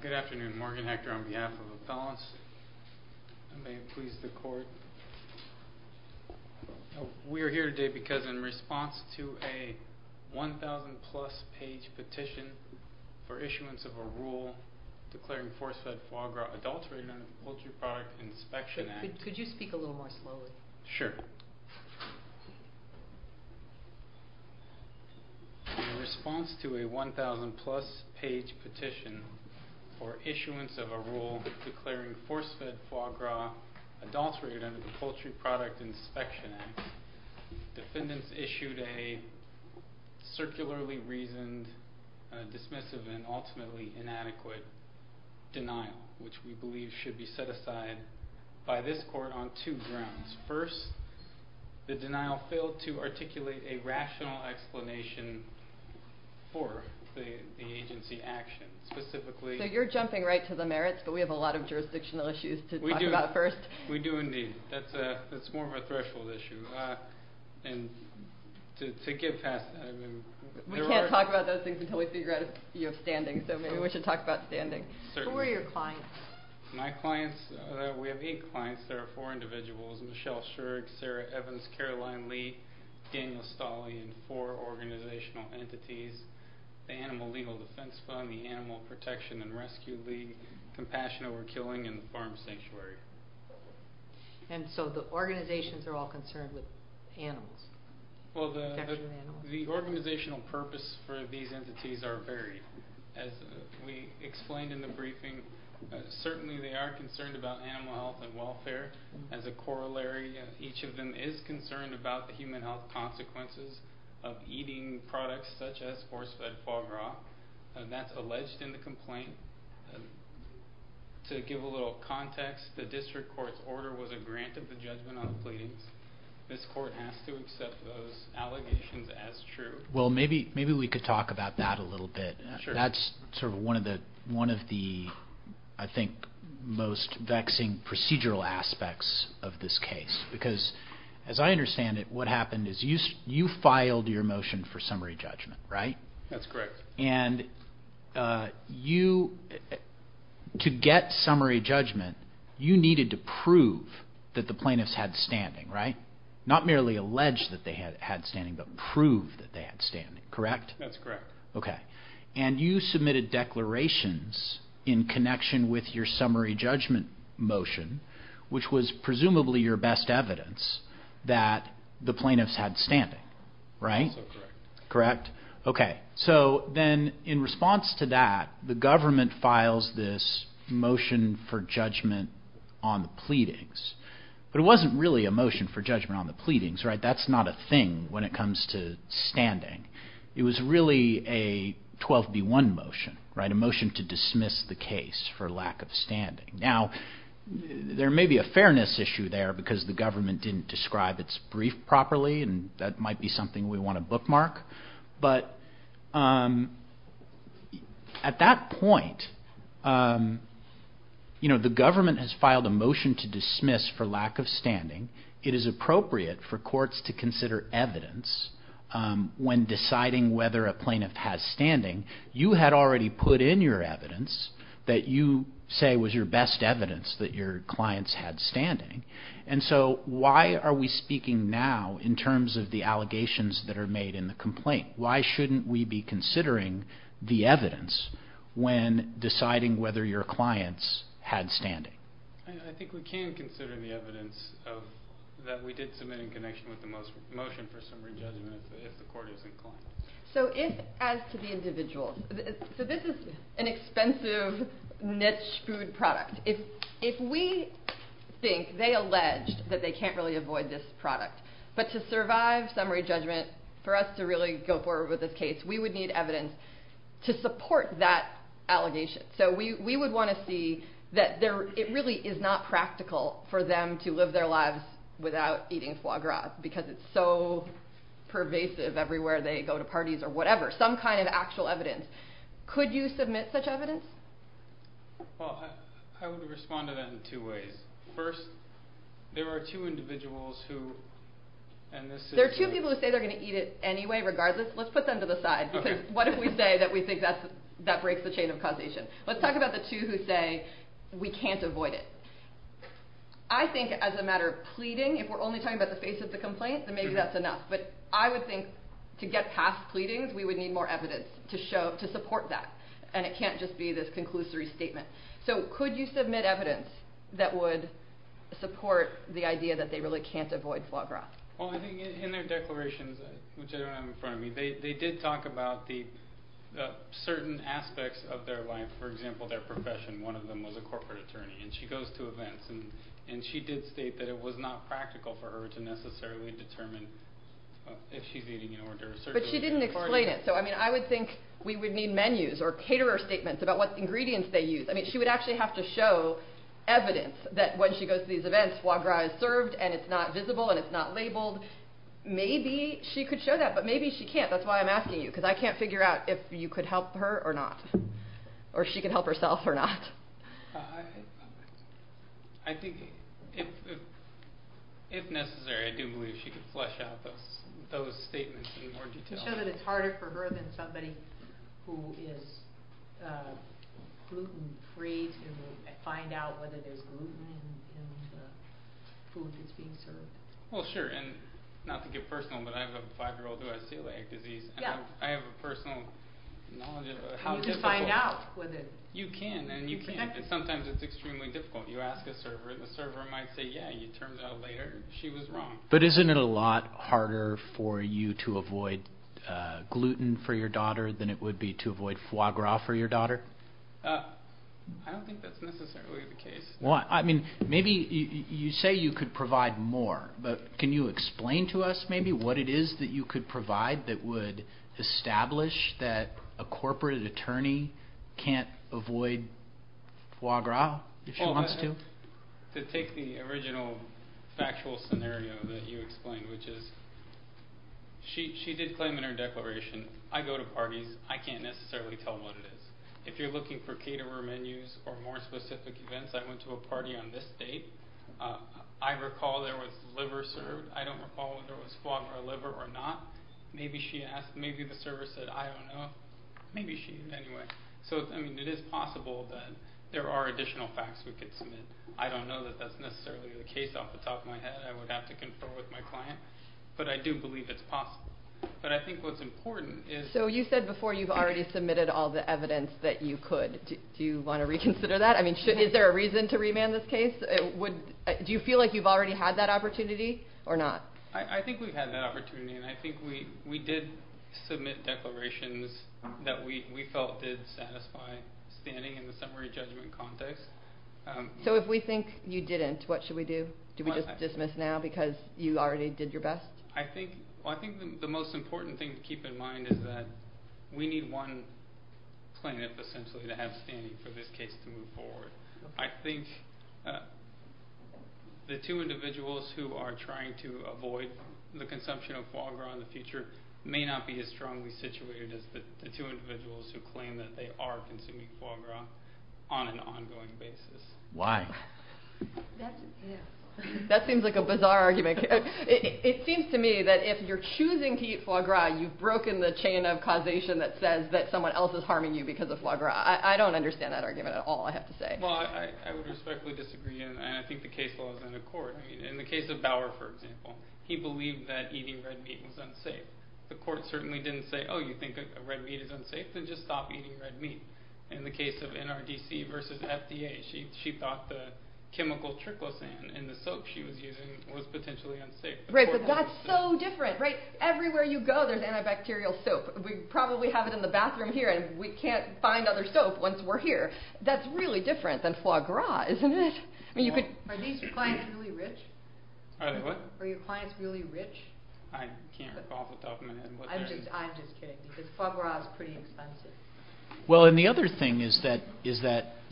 Good afternoon, Morgan Hector on behalf of Appellants, and may it please the Court, we are here today because in response to a 1,000-plus page petition for issuance of a rule declaring force-fed foie gras adulterated under the Poultry Product Inspection Act. Could you speak a little more slowly? Sure. In response to a 1,000-plus page petition for issuance of a rule declaring force-fed foie gras adulterated under the Poultry Product Inspection Act, defendants issued a circularly reasoned, dismissive, and ultimately inadequate denial, which we believe should be set aside by this Court on two grounds. First, the denial failed to articulate a rational explanation for the agency action. So you're jumping right to the merits, but we have a lot of jurisdictional issues to talk about first. We do indeed. That's more of a threshold issue. We can't talk about those things until we figure out if you have standing, so maybe we should talk about standing. Who are your clients? We have eight clients. There are four individuals, Michelle Schurg, Sarah Evans, Caroline Lee, Daniel Stolle, and four organizational entities, the Animal Legal Defense Fund, the Animal Protection and Rescue League, Compassion Over Killing, and the Farm Sanctuary. And so the organizations are all concerned with animals? Well, the organizational purpose for these entities are varied. As we explained in the briefing, certainly they are concerned about animal health and welfare. As a corollary, each of them is concerned about the human health consequences of eating products such as force-fed foie gras, and that's alleged in the complaint. To give a little context, the district court's order was a grant of the judgment on the pleadings. This court has to accept those allegations as true. Well, maybe we could talk about that a little bit. That's sort of one of the, I think, most vexing procedural aspects of this case, because as I understand it, what happened is you filed your motion for summary judgment, right? That's correct. And you, to get summary judgment, you needed to prove that the plaintiffs had standing, right? Not merely allege that they had standing, but prove that they had standing, correct? That's correct. Okay. And you submitted declarations in connection with your summary judgment motion, which was presumably your best evidence that the plaintiffs had standing, right? Correct. Correct. Okay. So then in response to that, the government files this motion for judgment on the pleadings. But it wasn't really a motion for judgment on the pleadings, right? That's not a thing when it comes to standing. It was really a 12B1 motion, right? A motion to dismiss the case for lack of standing. Now, there may be a fairness issue there, because the government didn't describe its brief properly, and that might be something we want to bookmark. But at that point, you know, the government has filed a motion to dismiss for lack of standing. It is appropriate for courts to consider evidence when deciding whether a plaintiff has standing. You had already put in your evidence that you say was your best evidence that your clients had standing. And so why are we speaking now in terms of the allegations that are made in the complaint? Why shouldn't we be considering the evidence when deciding whether your clients had standing? I think we can consider the evidence that we did submit in connection with the motion for summary judgment if the court is inclined. So if, as to the individuals, so this is an expensive niche food product. If we think they alleged that they can't really avoid this product, but to survive summary judgment, for us to really go forward with this case, we would need evidence to support that allegation. So we would want to see that it really is not practical for them to live their lives without eating foie gras, because it's so pervasive everywhere they go to parties or whatever, some kind of actual evidence. Could you submit such evidence? Well, I would respond to that in two ways. First, there are two individuals who, and this is... There are two people who say they're going to eat it anyway, regardless. Let's put them to the side. What if we say that we think that breaks the chain of causation? Let's talk about the two who say we can't avoid it. I think as a matter of pleading, if we're only talking about the face of the complaint, then maybe that's enough. But I would think to get past pleadings, we would need more evidence to support that. And it can't just be this conclusory statement. So could you submit evidence that would support the idea that they really can't avoid foie gras? Well, I think in their declarations, which I don't have in front of me, they did talk about the certain aspects of their life. For example, their profession. One of them was a corporate attorney, and she goes to events, and she did state that it was not practical for her to necessarily determine if she's eating in order. But she didn't explain it. So, I mean, I would think we would need menus or caterer statements about what ingredients they use. I mean, she would actually have to show evidence that when she goes to these events, foie gras is served, and it's not visible, and it's not labeled. Maybe she could show that, but maybe she can't. That's why I'm asking you, because I can't figure out if you could help her or not, or if she could help herself or not. I think if necessary, I do believe she could flesh out those statements in more detail. I'm sure that it's harder for her than somebody who is gluten-free to find out whether there's gluten in the food that's being served. Well, sure. And not to get personal, but I have a 5-year-old who has celiac disease, and I have a personal knowledge of how difficult it is. You can find out. You can, and you can't. And sometimes it's extremely difficult. You ask a server, and the server might say, yeah, it turns out later she was wrong. But isn't it a lot harder for you to avoid gluten for your daughter than it would be to avoid foie gras for your daughter? I don't think that's necessarily the case. Maybe you say you could provide more, but can you explain to us maybe what it is that you could provide that would establish that a corporate attorney can't avoid foie gras if she wants to? To take the original factual scenario that you explained, which is she did claim in her declaration, I go to parties. I can't necessarily tell what it is. If you're looking for caterer menus or more specific events, I went to a party on this date. I recall there was liver served. I don't recall whether it was foie gras liver or not. Maybe the server said, I don't know. Maybe she did anyway. It is possible that there are additional facts we could submit. I don't know that that's necessarily the case off the top of my head. I would have to confer with my client. But I do believe it's possible. But I think what's important is... You said before you've already submitted all the evidence that you could. Do you want to reconsider that? Is there a reason to remand this case? Do you feel like you've already had that opportunity or not? I think we've had that opportunity. I think we did submit declarations that we felt did satisfy standing in the summary judgment context. If we think you didn't, what should we do? Do we just dismiss now because you already did your best? I think the most important thing to keep in mind is that we need one plaintiff, essentially, to have standing for this case to move forward. I think the two individuals who are trying to avoid the consumption of foie gras in the future may not be as strongly situated as the two individuals who claim that they are consuming foie gras on an ongoing basis. Why? That seems like a bizarre argument. It seems to me that if you're choosing to eat foie gras, you've broken the chain of causation that says that someone else is harming you because of foie gras. I don't understand that argument at all, I have to say. I would respectfully disagree, and I think the case law is in accord. In the case of Bauer, for example, he believed that eating red meat was unsafe. The court certainly didn't say, oh, you think red meat is unsafe? Then just stop eating red meat. In the case of NRDC versus FDA, she thought the chemical triclosan in the soap she was using was potentially unsafe. Right, but that's so different. Everywhere you go, there's antibacterial soap. We probably have it in the bathroom here, and we can't find other soap once we're here. That's really different than foie gras, isn't it? Are these clients really rich? Are they what? Are your clients really rich? I can't recall off the top of my head. I'm just kidding, because foie gras is pretty expensive. Well, and the other thing is that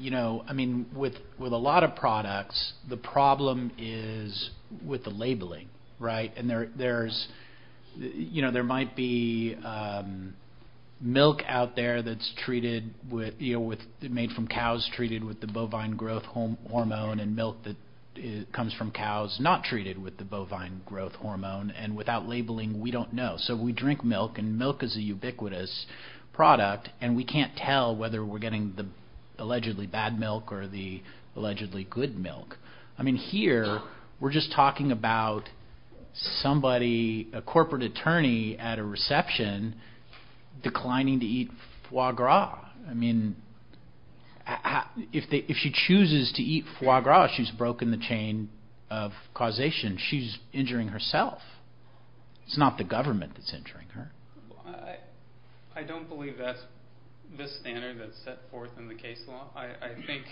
with a lot of products, the problem is with the labeling, right? There might be milk out there that's made from cows treated with the bovine growth hormone, and milk that comes from cows not treated with the bovine growth hormone, and without labeling, we don't know. So we drink milk, and milk is a ubiquitous product, and we can't tell whether we're getting the allegedly bad milk or the allegedly good milk. I mean, here, we're just talking about a corporate attorney at a reception declining to eat foie gras. I mean, if she chooses to eat foie gras, she's broken the chain of causation. She's injuring herself. It's not the government that's injuring her. I don't believe that's the standard that's set forth in the case law. I think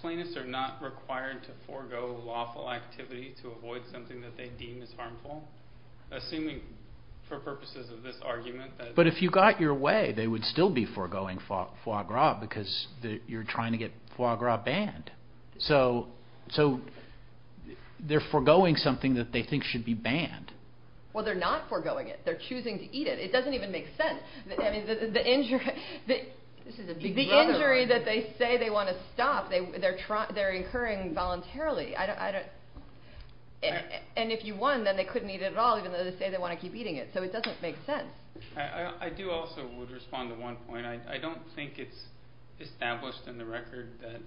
plaintiffs are not required to forego lawful activity to avoid something that they deem as harmful, assuming for purposes of this argument that— But if you got your way, they would still be foregoing foie gras because you're trying to get foie gras banned. So they're foregoing something that they think should be banned. Well, they're not foregoing it. They're choosing to eat it. It doesn't even make sense. I mean, the injury that they say they want to stop, they're incurring voluntarily. And if you won, then they couldn't eat it at all, even though they say they want to keep eating it. So it doesn't make sense. I do also want to respond to one point. I don't think it's established in the record that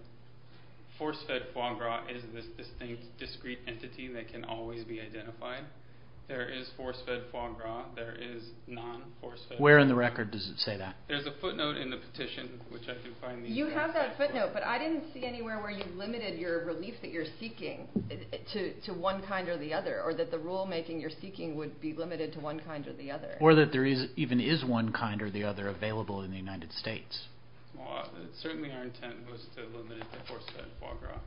force-fed foie gras is this distinct, discrete entity that can always be identified. There is force-fed foie gras. There is non-force-fed foie gras. Where in the record does it say that? There's a footnote in the petition, which I can find. You have that footnote, but I didn't see anywhere where you limited your relief that you're seeking to one kind or the other, or that the rulemaking you're seeking would be limited to one kind or the other. Or that there even is one kind or the other available in the United States. Well, certainly our intent was to limit it to force-fed foie gras.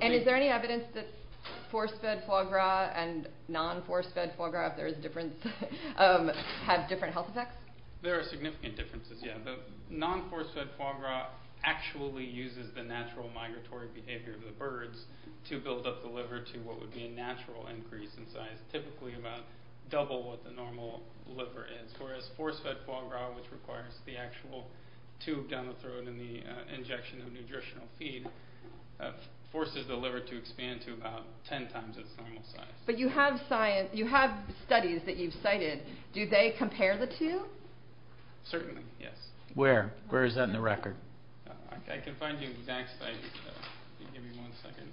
And is there any evidence that force-fed foie gras and non-force-fed foie gras, if there is a difference, have different health effects? There are significant differences, yeah. The non-force-fed foie gras actually uses the natural migratory behavior of the birds to build up the liver to what would be a natural increase in size, typically about double what the normal liver is, whereas force-fed foie gras, which requires the actual tube down the throat and the injection of nutritional feed, forces the liver to expand to about ten times its normal size. But you have studies that you've cited. Do they compare the two? Certainly, yes. Where? Where is that in the record? I can find the exact site. I'll give you one second.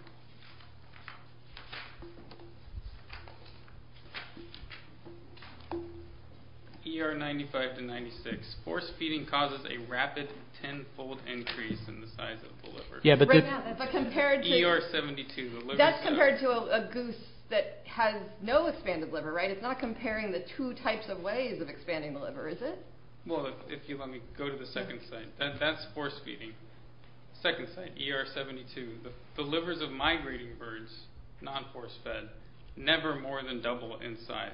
ER 95 to 96. Force-feeding causes a rapid tenfold increase in the size of the liver. Yeah, but compared to... ER 72. That's compared to a goose that has no expanded liver, right? It's not comparing the two types of ways of expanding the liver, is it? Well, if you let me go to the second site, that's force-feeding. Second site, ER 72. The livers of migrating birds, non-force-fed, never more than double in size.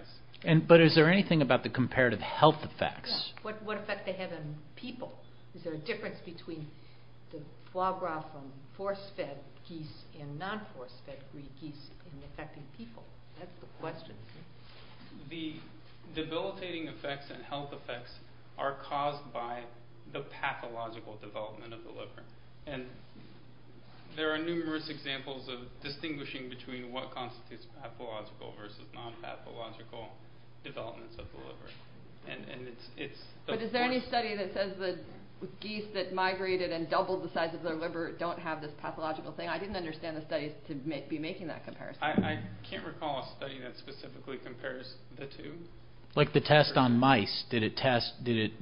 But is there anything about the comparative health effects? What effect do they have on people? Is there a difference between the foie gras from force-fed geese and non-force-fed geese in affecting people? That's the question. The debilitating effects and health effects are caused by the pathological development of the liver. And there are numerous examples of distinguishing between what constitutes pathological versus non-pathological developments of the liver. But is there any study that says that geese that migrated and doubled the size of their liver don't have this pathological thing? I didn't understand the studies to be making that comparison. I can't recall a study that specifically compares the two. Like the test on mice.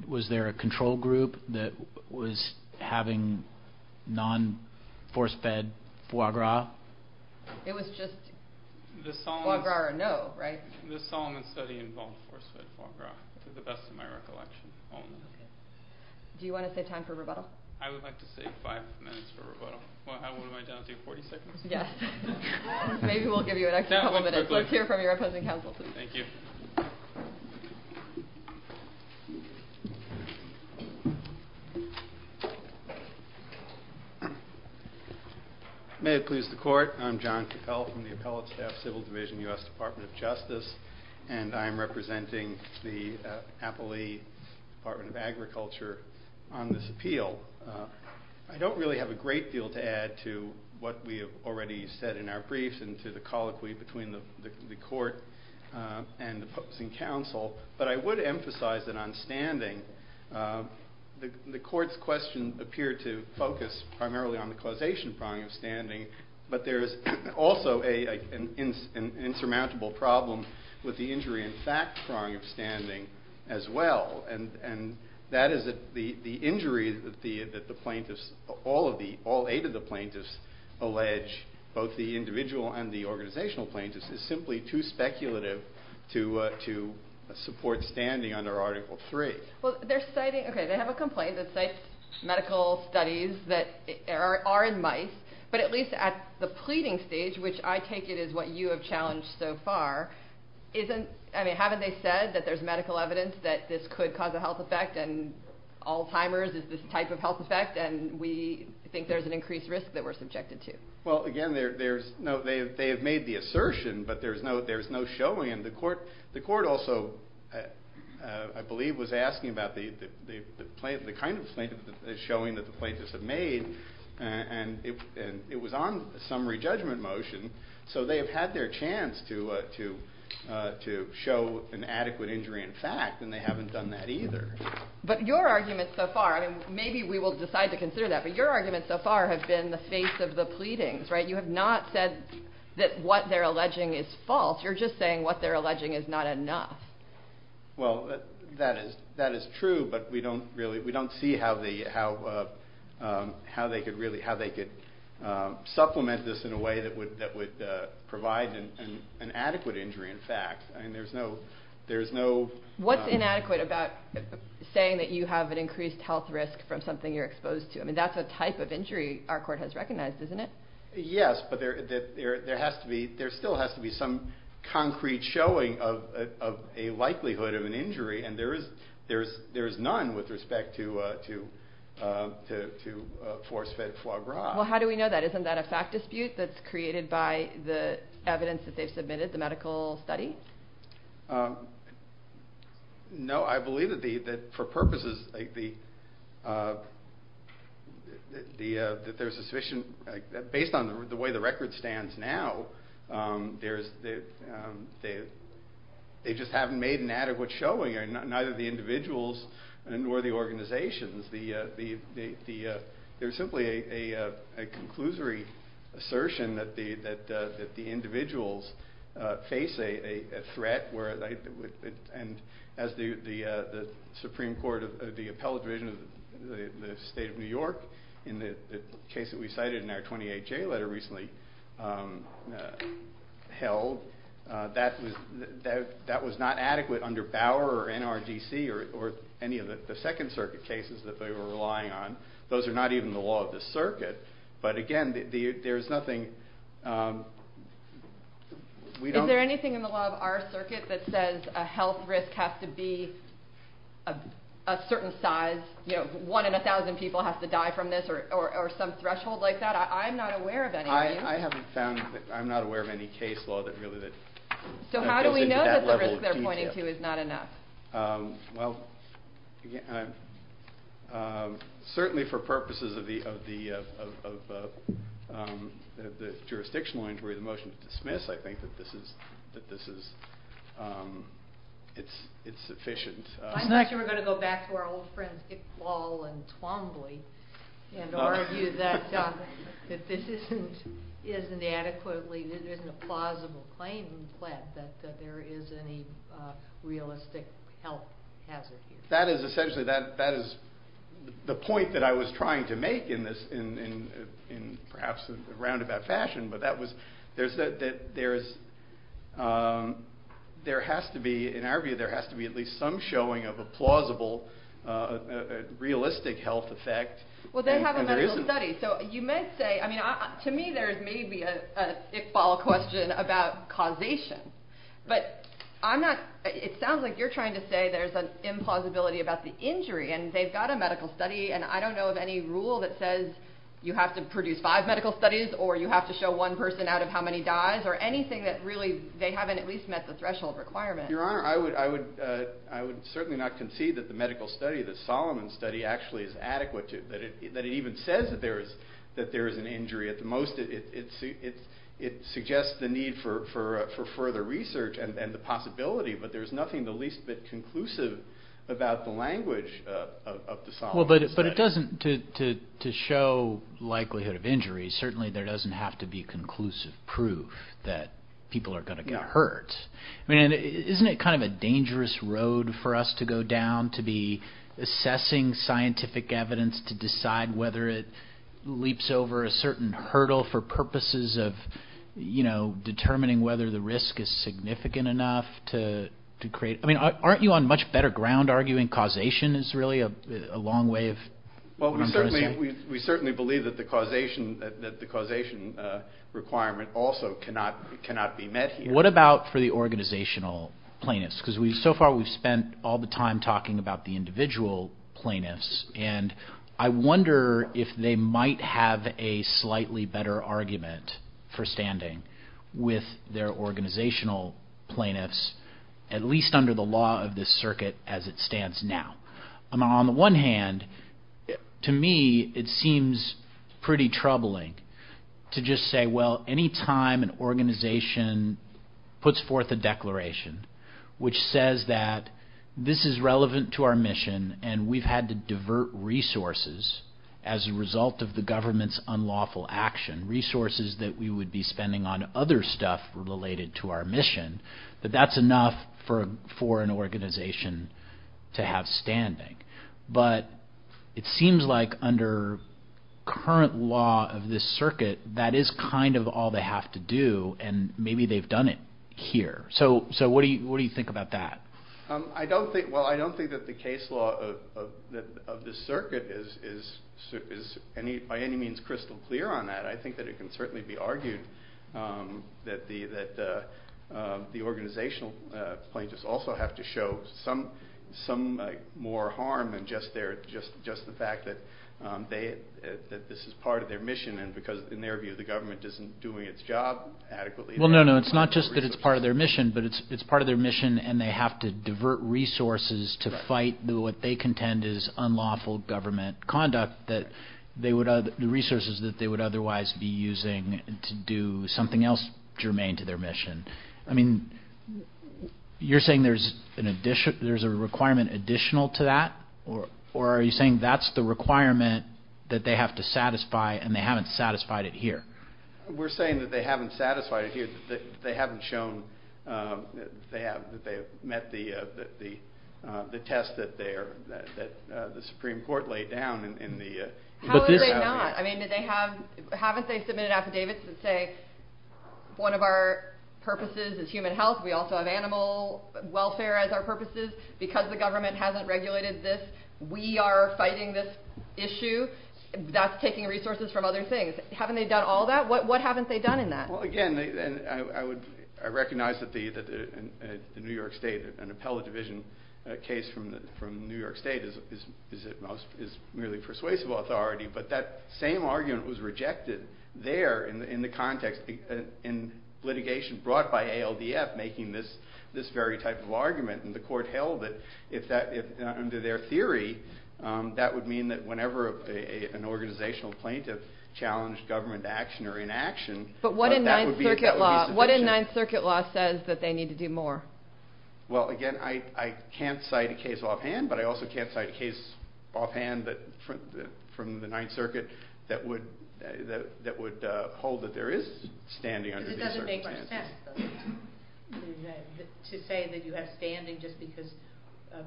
Was there a control group that was having non-force-fed foie gras? It was just foie gras or no, right? The Solomon study involved force-fed foie gras, to the best of my recollection. Do you want to save time for rebuttal? I would like to save five minutes for rebuttal. Well, what am I down to, 40 seconds? Yes. Maybe we'll give you an extra couple of minutes. Let's hear from your opposing counsel. Thank you. May it please the court. I'm John Cappell from the Appellate Staff Civil Division, U.S. Department of Justice. And I'm representing the Appellee Department of Agriculture on this appeal. I don't really have a great deal to add to what we already said in our briefs and to the colloquy between the court and opposing counsel. But I would emphasize that on standing, the court's question appeared to focus primarily on the causation prong of standing. But there is also an insurmountable problem with the injury in fact prong of standing as well. And that is the injury that all eight of the plaintiffs allege, both the individual and the organizational plaintiffs, is simply too speculative to support standing under Article III. Well, they have a complaint that cites medical studies that are in mice, but at least at the pleading stage, which I take it is what you have challenged so far, haven't they said that there's medical evidence that this could cause a health effect and Alzheimer's is this type of health effect and we think there's an increased risk that we're subjected to? Well, again, they have made the assertion, but there's no showing. The court also, I believe, was asking about the kind of statement that they're showing that the plaintiffs have made. And it was on summary judgment motion, so they have had their chance to show an adequate injury in fact, and they haven't done that either. But your argument so far, and maybe we will decide to consider that, but your argument so far has been the face of the pleadings, right? You have not said that what they're alleging is false. You're just saying what they're alleging is not enough. Well, that is true, but we don't see how they could supplement this in a way that would provide an adequate injury in fact. What's inadequate about saying that you have an increased health risk from something you're exposed to? I mean, that's a type of injury our court has recognized, isn't it? Yes, but there still has to be some concrete showing of a likelihood of an injury, and there is none with respect to force-fed foie gras. Well, how do we know that? Isn't that a fact dispute that's created by the evidence that they've submitted, the medical study? No, I believe that for purposes, based on the way the record stands now, they just haven't made an adequate showing, neither the individuals nor the organizations. There's simply a conclusory assertion that the individuals face a threat, and as the Supreme Court, the Appellate Division of the State of New York, in the case that we cited in our 28-J letter recently held, that was not adequate under Bauer or NRDC or any of the Second Circuit cases that they were relying on. Those are not even the law of the circuit, but again, there's nothing... Is there anything in the law of our circuit that says a health risk has to be a certain size, you know, one in a thousand people has to die from this, or some threshold like that? I'm not aware of any of these. I haven't found... I'm not aware of any case law that really... So how do we know that the risk they're pointing to is not enough? Well, certainly for purposes of the jurisdictional inquiry, the motion is dismissed. I think that this is... it's sufficient. I'm not sure we're going to go back to our old friends Iqbal and Twombly and argue that this isn't adequately... it isn't a plausible claim that there is any realistic health hazard here. That is essentially... that is the point that I was trying to make in perhaps a roundabout fashion, but that was... there's... there has to be, in our view, there has to be at least some showing of a plausible, realistic health effect. Well, they have a medical study, so you might say... I mean, to me there's maybe a Iqbal question about causation, but I'm not... it sounds like you're trying to say there's an implausibility about the injury, and they've got a medical study, and I don't know of any rule that says you have to produce five medical studies, or you have to show one person out of how many dies, or anything that really... they haven't at least met the threshold requirement. Your Honor, I would certainly not concede that the medical study, the Solomon study, actually is adequate to... that it even says that there is an injury. At the most, it suggests the need for further research and the possibility, but there's nothing the least bit conclusive about the language of the Solomon study. Well, but it doesn't... to show likelihood of injury, certainly there doesn't have to be conclusive proof that people are going to get hurt. I mean, isn't it kind of a dangerous road for us to go down to be assessing scientific evidence to decide whether it leaps over a certain hurdle for purposes of, you know, determining whether the risk is significant enough to create... I mean, aren't you on much better ground arguing causation is really a long way of... Well, we certainly believe that the causation requirement also cannot be met here. What about for the organizational plaintiffs? Because so far we've spent all the time talking about the individual plaintiffs, and I wonder if they might have a slightly better argument for standing with their organizational plaintiffs, at least under the law of this circuit as it stands now. On the one hand, to me, it seems pretty troubling to just say, well, any time an organization puts forth a declaration which says that this is relevant to our mission and we've had to divert resources as a result of the government's unlawful action, resources that we would be spending on other stuff related to our mission, that that's enough for an organization to have standing. But it seems like under current law of this circuit that is kind of all they have to do, and maybe they've done it here. So what do you think about that? Well, I don't think that the case law of this circuit is by any means crystal clear on that. I think that it can certainly be argued that the organizational plaintiffs also have to show some more harm than just the fact that this is part of their mission and because in their view the government isn't doing its job adequately. Well, no, no, it's not just that it's part of their mission, but it's part of their mission and they have to divert resources to fight what they contend is unlawful government conduct, the resources that they would otherwise be using to do something else germane to their mission. I mean, you're saying there's a requirement additional to that, or are you saying that's the requirement that they have to satisfy and they haven't satisfied it here? We're saying that they haven't satisfied it here, that they haven't shown that they have met the test that the Supreme Court laid down. How is it not? I mean, haven't they submitted affidavits that say one of our purposes is human health? We also have animal welfare as our purposes. Because the government hasn't regulated this, we are fighting this issue. That's taking resources from other things. Haven't they done all that? What haven't they done in that? Well, again, I recognize that the New York State, an appellate division case from New York State is merely persuasive authority, but that same argument was rejected there in the context, in litigation brought by ALDF making this very type of argument. And the court held that under their theory, that would mean that whenever an organizational plaintiff challenged government action or inaction, that would be sufficient. But what in Ninth Circuit law says that they need to do more? Well, again, I can't cite a case offhand, but I also can't cite a case offhand from the Ninth Circuit that would hold that there is standing under Ninth Circuit standards. It doesn't make much sense to say that you have standing just because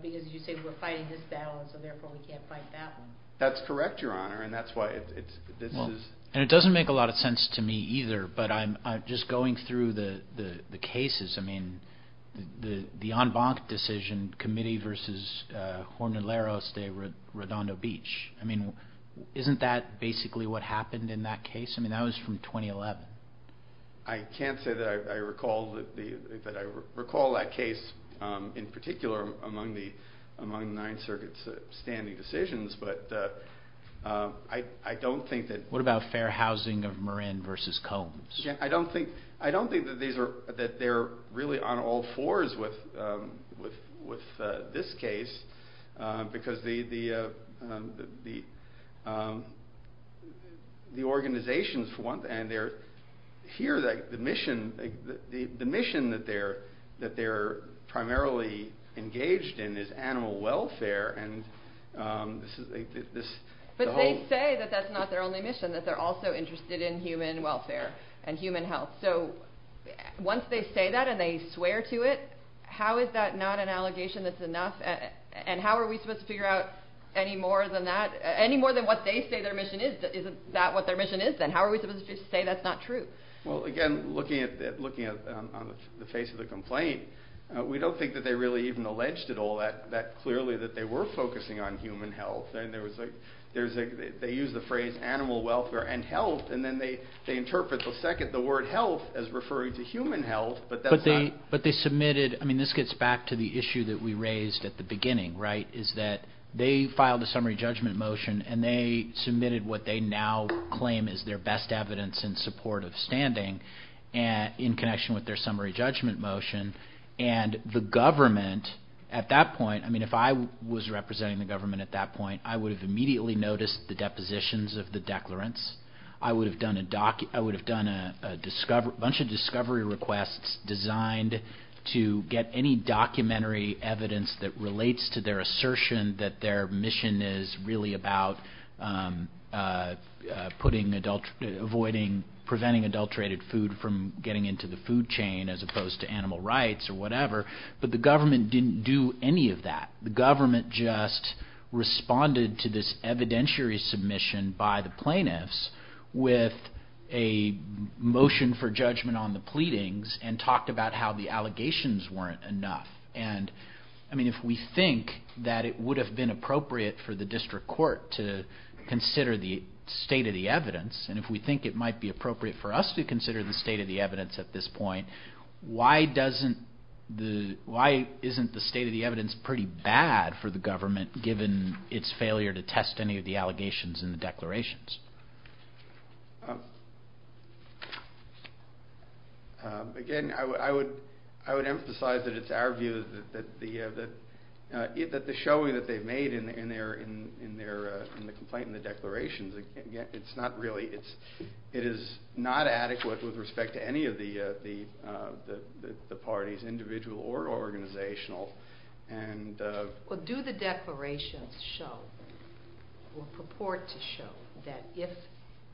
you say we're fighting this battle and so therefore we can't fight that one. That's correct, Your Honor, and that's why this is. And it doesn't make a lot of sense to me either, but I'm just going through the cases. I mean, the en banc decision, committee versus Jornaleros de Redondo Beach. I mean, isn't that basically what happened in that case? I mean, that was from 2011. I can't say that I recall that case in particular among the Ninth Circuit's standing decisions, but I don't think that... What about fair housing of Marin versus Combs? I don't think that they're really on all fours with this case because the organizations, for one thing, and here the mission that they're primarily engaged in is animal welfare. But they say that that's not their only mission, and that they're also interested in human welfare and human health. So once they say that and they swear to it, how is that not an allegation that's enough? And how are we supposed to figure out any more than that, any more than what they say their mission is? Isn't that what their mission is then? How are we supposed to say that's not true? Well, again, looking on the face of the complaint, we don't think that they really even alleged at all that clearly that they were focusing on human health. They use the phrase animal welfare and health, and then they interpret the word health as referring to human health, but that's not... But they submitted... I mean, this gets back to the issue that we raised at the beginning, right, is that they filed a summary judgment motion, and they submitted what they now claim is their best evidence in support of standing in connection with their summary judgment motion, and the government at that point... I mean, if I was representing the government at that point, I would have immediately noticed the depositions of the declarants. I would have done a bunch of discovery requests designed to get any documentary evidence that relates to their assertion that their mission is really about putting adult... avoiding...preventing adulterated food from getting into the food chain as opposed to animal rights or whatever. But the government didn't do any of that. The government just responded to this evidentiary submission by the plaintiffs with a motion for judgment on the pleadings and talked about how the allegations weren't enough. And, I mean, if we think that it would have been appropriate for the district court to consider the state of the evidence, and if we think it might be appropriate for us to consider the state of the evidence at this point, why isn't the state of the evidence pretty bad for the government given its failure to test any of the allegations in the declarations? Again, I would emphasize that it's our view that the showing that they've made in the complaint and the declarations, it's not really...it is not adequate with respect to any of the parties, individual or organizational, and... Well, do the declarations show or purport to show that if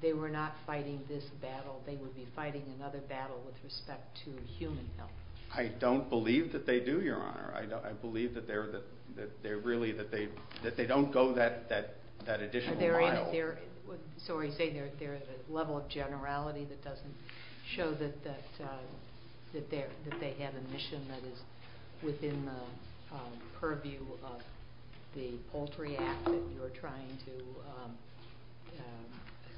they were not fighting this battle, they would be fighting another battle with respect to human health? I don't believe that they do, Your Honor. I believe that they're really...that they don't go that additional mile. They're in...sorry, say they're at a level of generality that doesn't show that they have a mission that is within the purview of the Poultry Act that you're trying to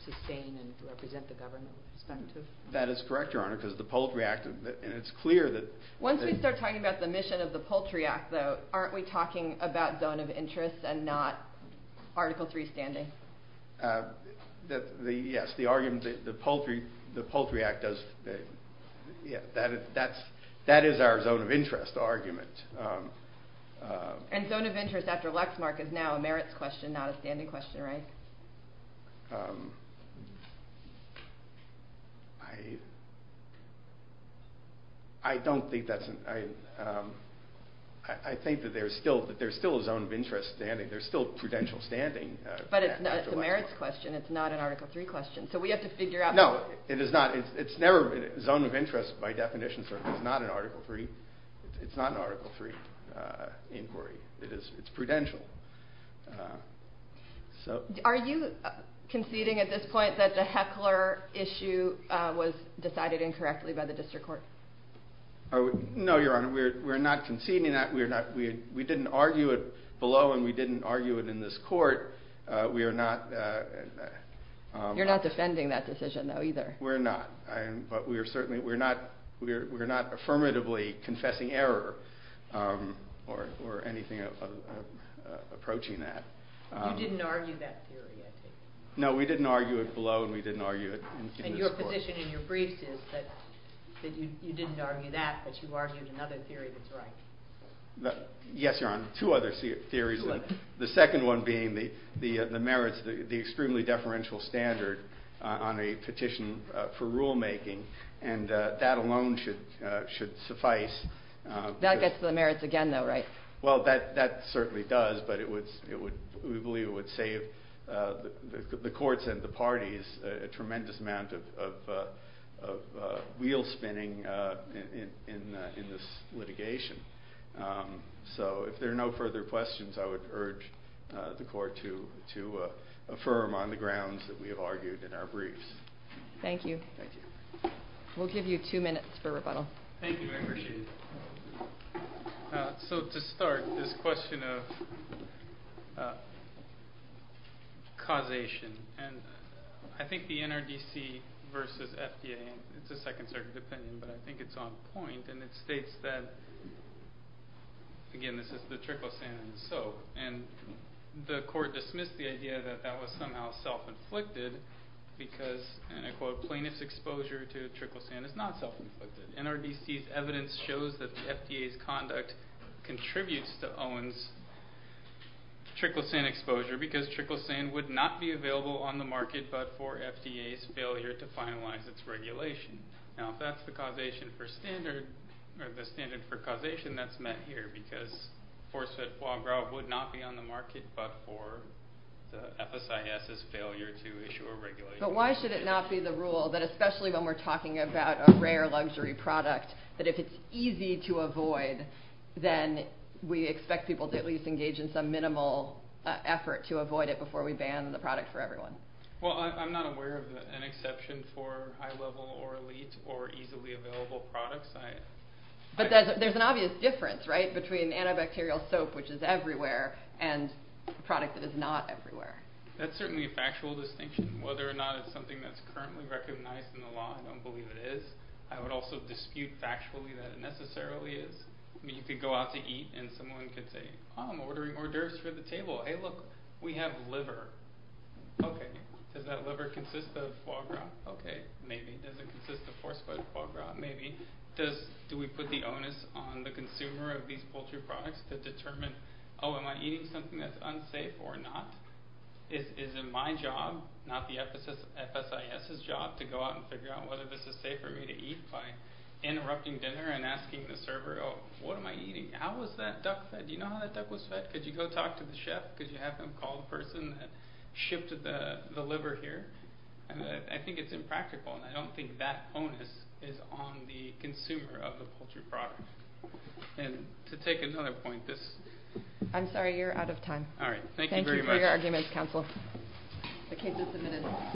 sustain and represent the government with respect to? That is correct, Your Honor, because the Poultry Act...and it's clear that... Once we start talking about the mission of the Poultry Act, though, aren't we talking about zone of interest and not Article III standing? Yes, the argument that the Poultry Act does... that is our zone of interest argument. And zone of interest after Lexmark is now a merits question, not a standing question, right? I don't think that's... I think that there's still a zone of interest standing. There's still prudential standing after Lexmark. But it's a merits question. It's not an Article III question. So we have to figure out... No, it is not. It's never...zone of interest, by definition, is not an Article III inquiry. It's prudential. Are you conceding at this point that the Heckler issue was decided incorrectly by the District Court? No, Your Honor, we're not conceding that. We didn't argue it below and we didn't argue it in this court. We are not... You're not defending that decision, though, either. We're not. But we are certainly...we're not affirmatively confessing error or anything approaching that. You didn't argue that theory, I take it? And your position in your briefs is that you didn't argue that, but you argued another theory that's right. Yes, Your Honor, two other theories. The second one being the merits, the extremely deferential standard on a petition for rulemaking. And that alone should suffice. That gets to the merits again, though, right? Well, that certainly does. But we believe it would save the courts and the parties a tremendous amount of wheel spinning in this litigation. So if there are no further questions, I would urge the court to affirm on the grounds that we have argued in our briefs. Thank you. We'll give you two minutes for rebuttal. Thank you, I appreciate it. So to start, this question of causation, and I think the NRDC versus FDA, it's a second-circuit opinion, but I think it's on point, and it states that, again, this is the triclosan and so, and the court dismissed the idea that that was somehow self-inflicted because, and I quote, plaintiff's exposure to triclosan is not self-inflicted. NRDC's evidence shows that the FDA's conduct contributes to Owen's triclosan exposure because triclosan would not be available on the market but for FDA's failure to finalize its regulation. Now, if that's the causation for standard, or the standard for causation, that's met here because force-fed foie gras would not be on the market but for the FSIS's failure to issue a regulation. But why should it not be the rule that, especially when we're talking about a rare luxury product, that if it's easy to avoid, then we expect people to at least engage in some minimal effort to avoid it before we ban the product for everyone? Well, I'm not aware of an exception for high-level or elite or easily available products. But there's an obvious difference, right, between antibacterial soap, which is everywhere, and a product that is not everywhere. That's certainly a factual distinction. Whether or not it's something that's currently recognized in the law, I don't believe it is. I would also dispute factually that it necessarily is. I mean, you could go out to eat and someone could say, Oh, I'm ordering hors d'oeuvres for the table. Hey, look, we have liver. Okay, does that liver consist of foie gras? Okay, maybe. Does it consist of force-fed foie gras? Maybe. Do we put the onus on the consumer of these poultry products to determine, oh, am I eating something that's unsafe or not? Is it my job, not the FSIS's job, to go out and figure out whether this is safe for me to eat by interrupting dinner and asking the server, oh, what am I eating? How was that duck fed? Do you know how that duck was fed? Could you go talk to the chef? Could you have him call the person that shipped the liver here? I think it's impractical, and I don't think that onus is on the consumer of the poultry product. And to take another point, this— I'm sorry, you're out of time. All right, thank you very much. Thank you for your arguments, counsel. The case is submitted.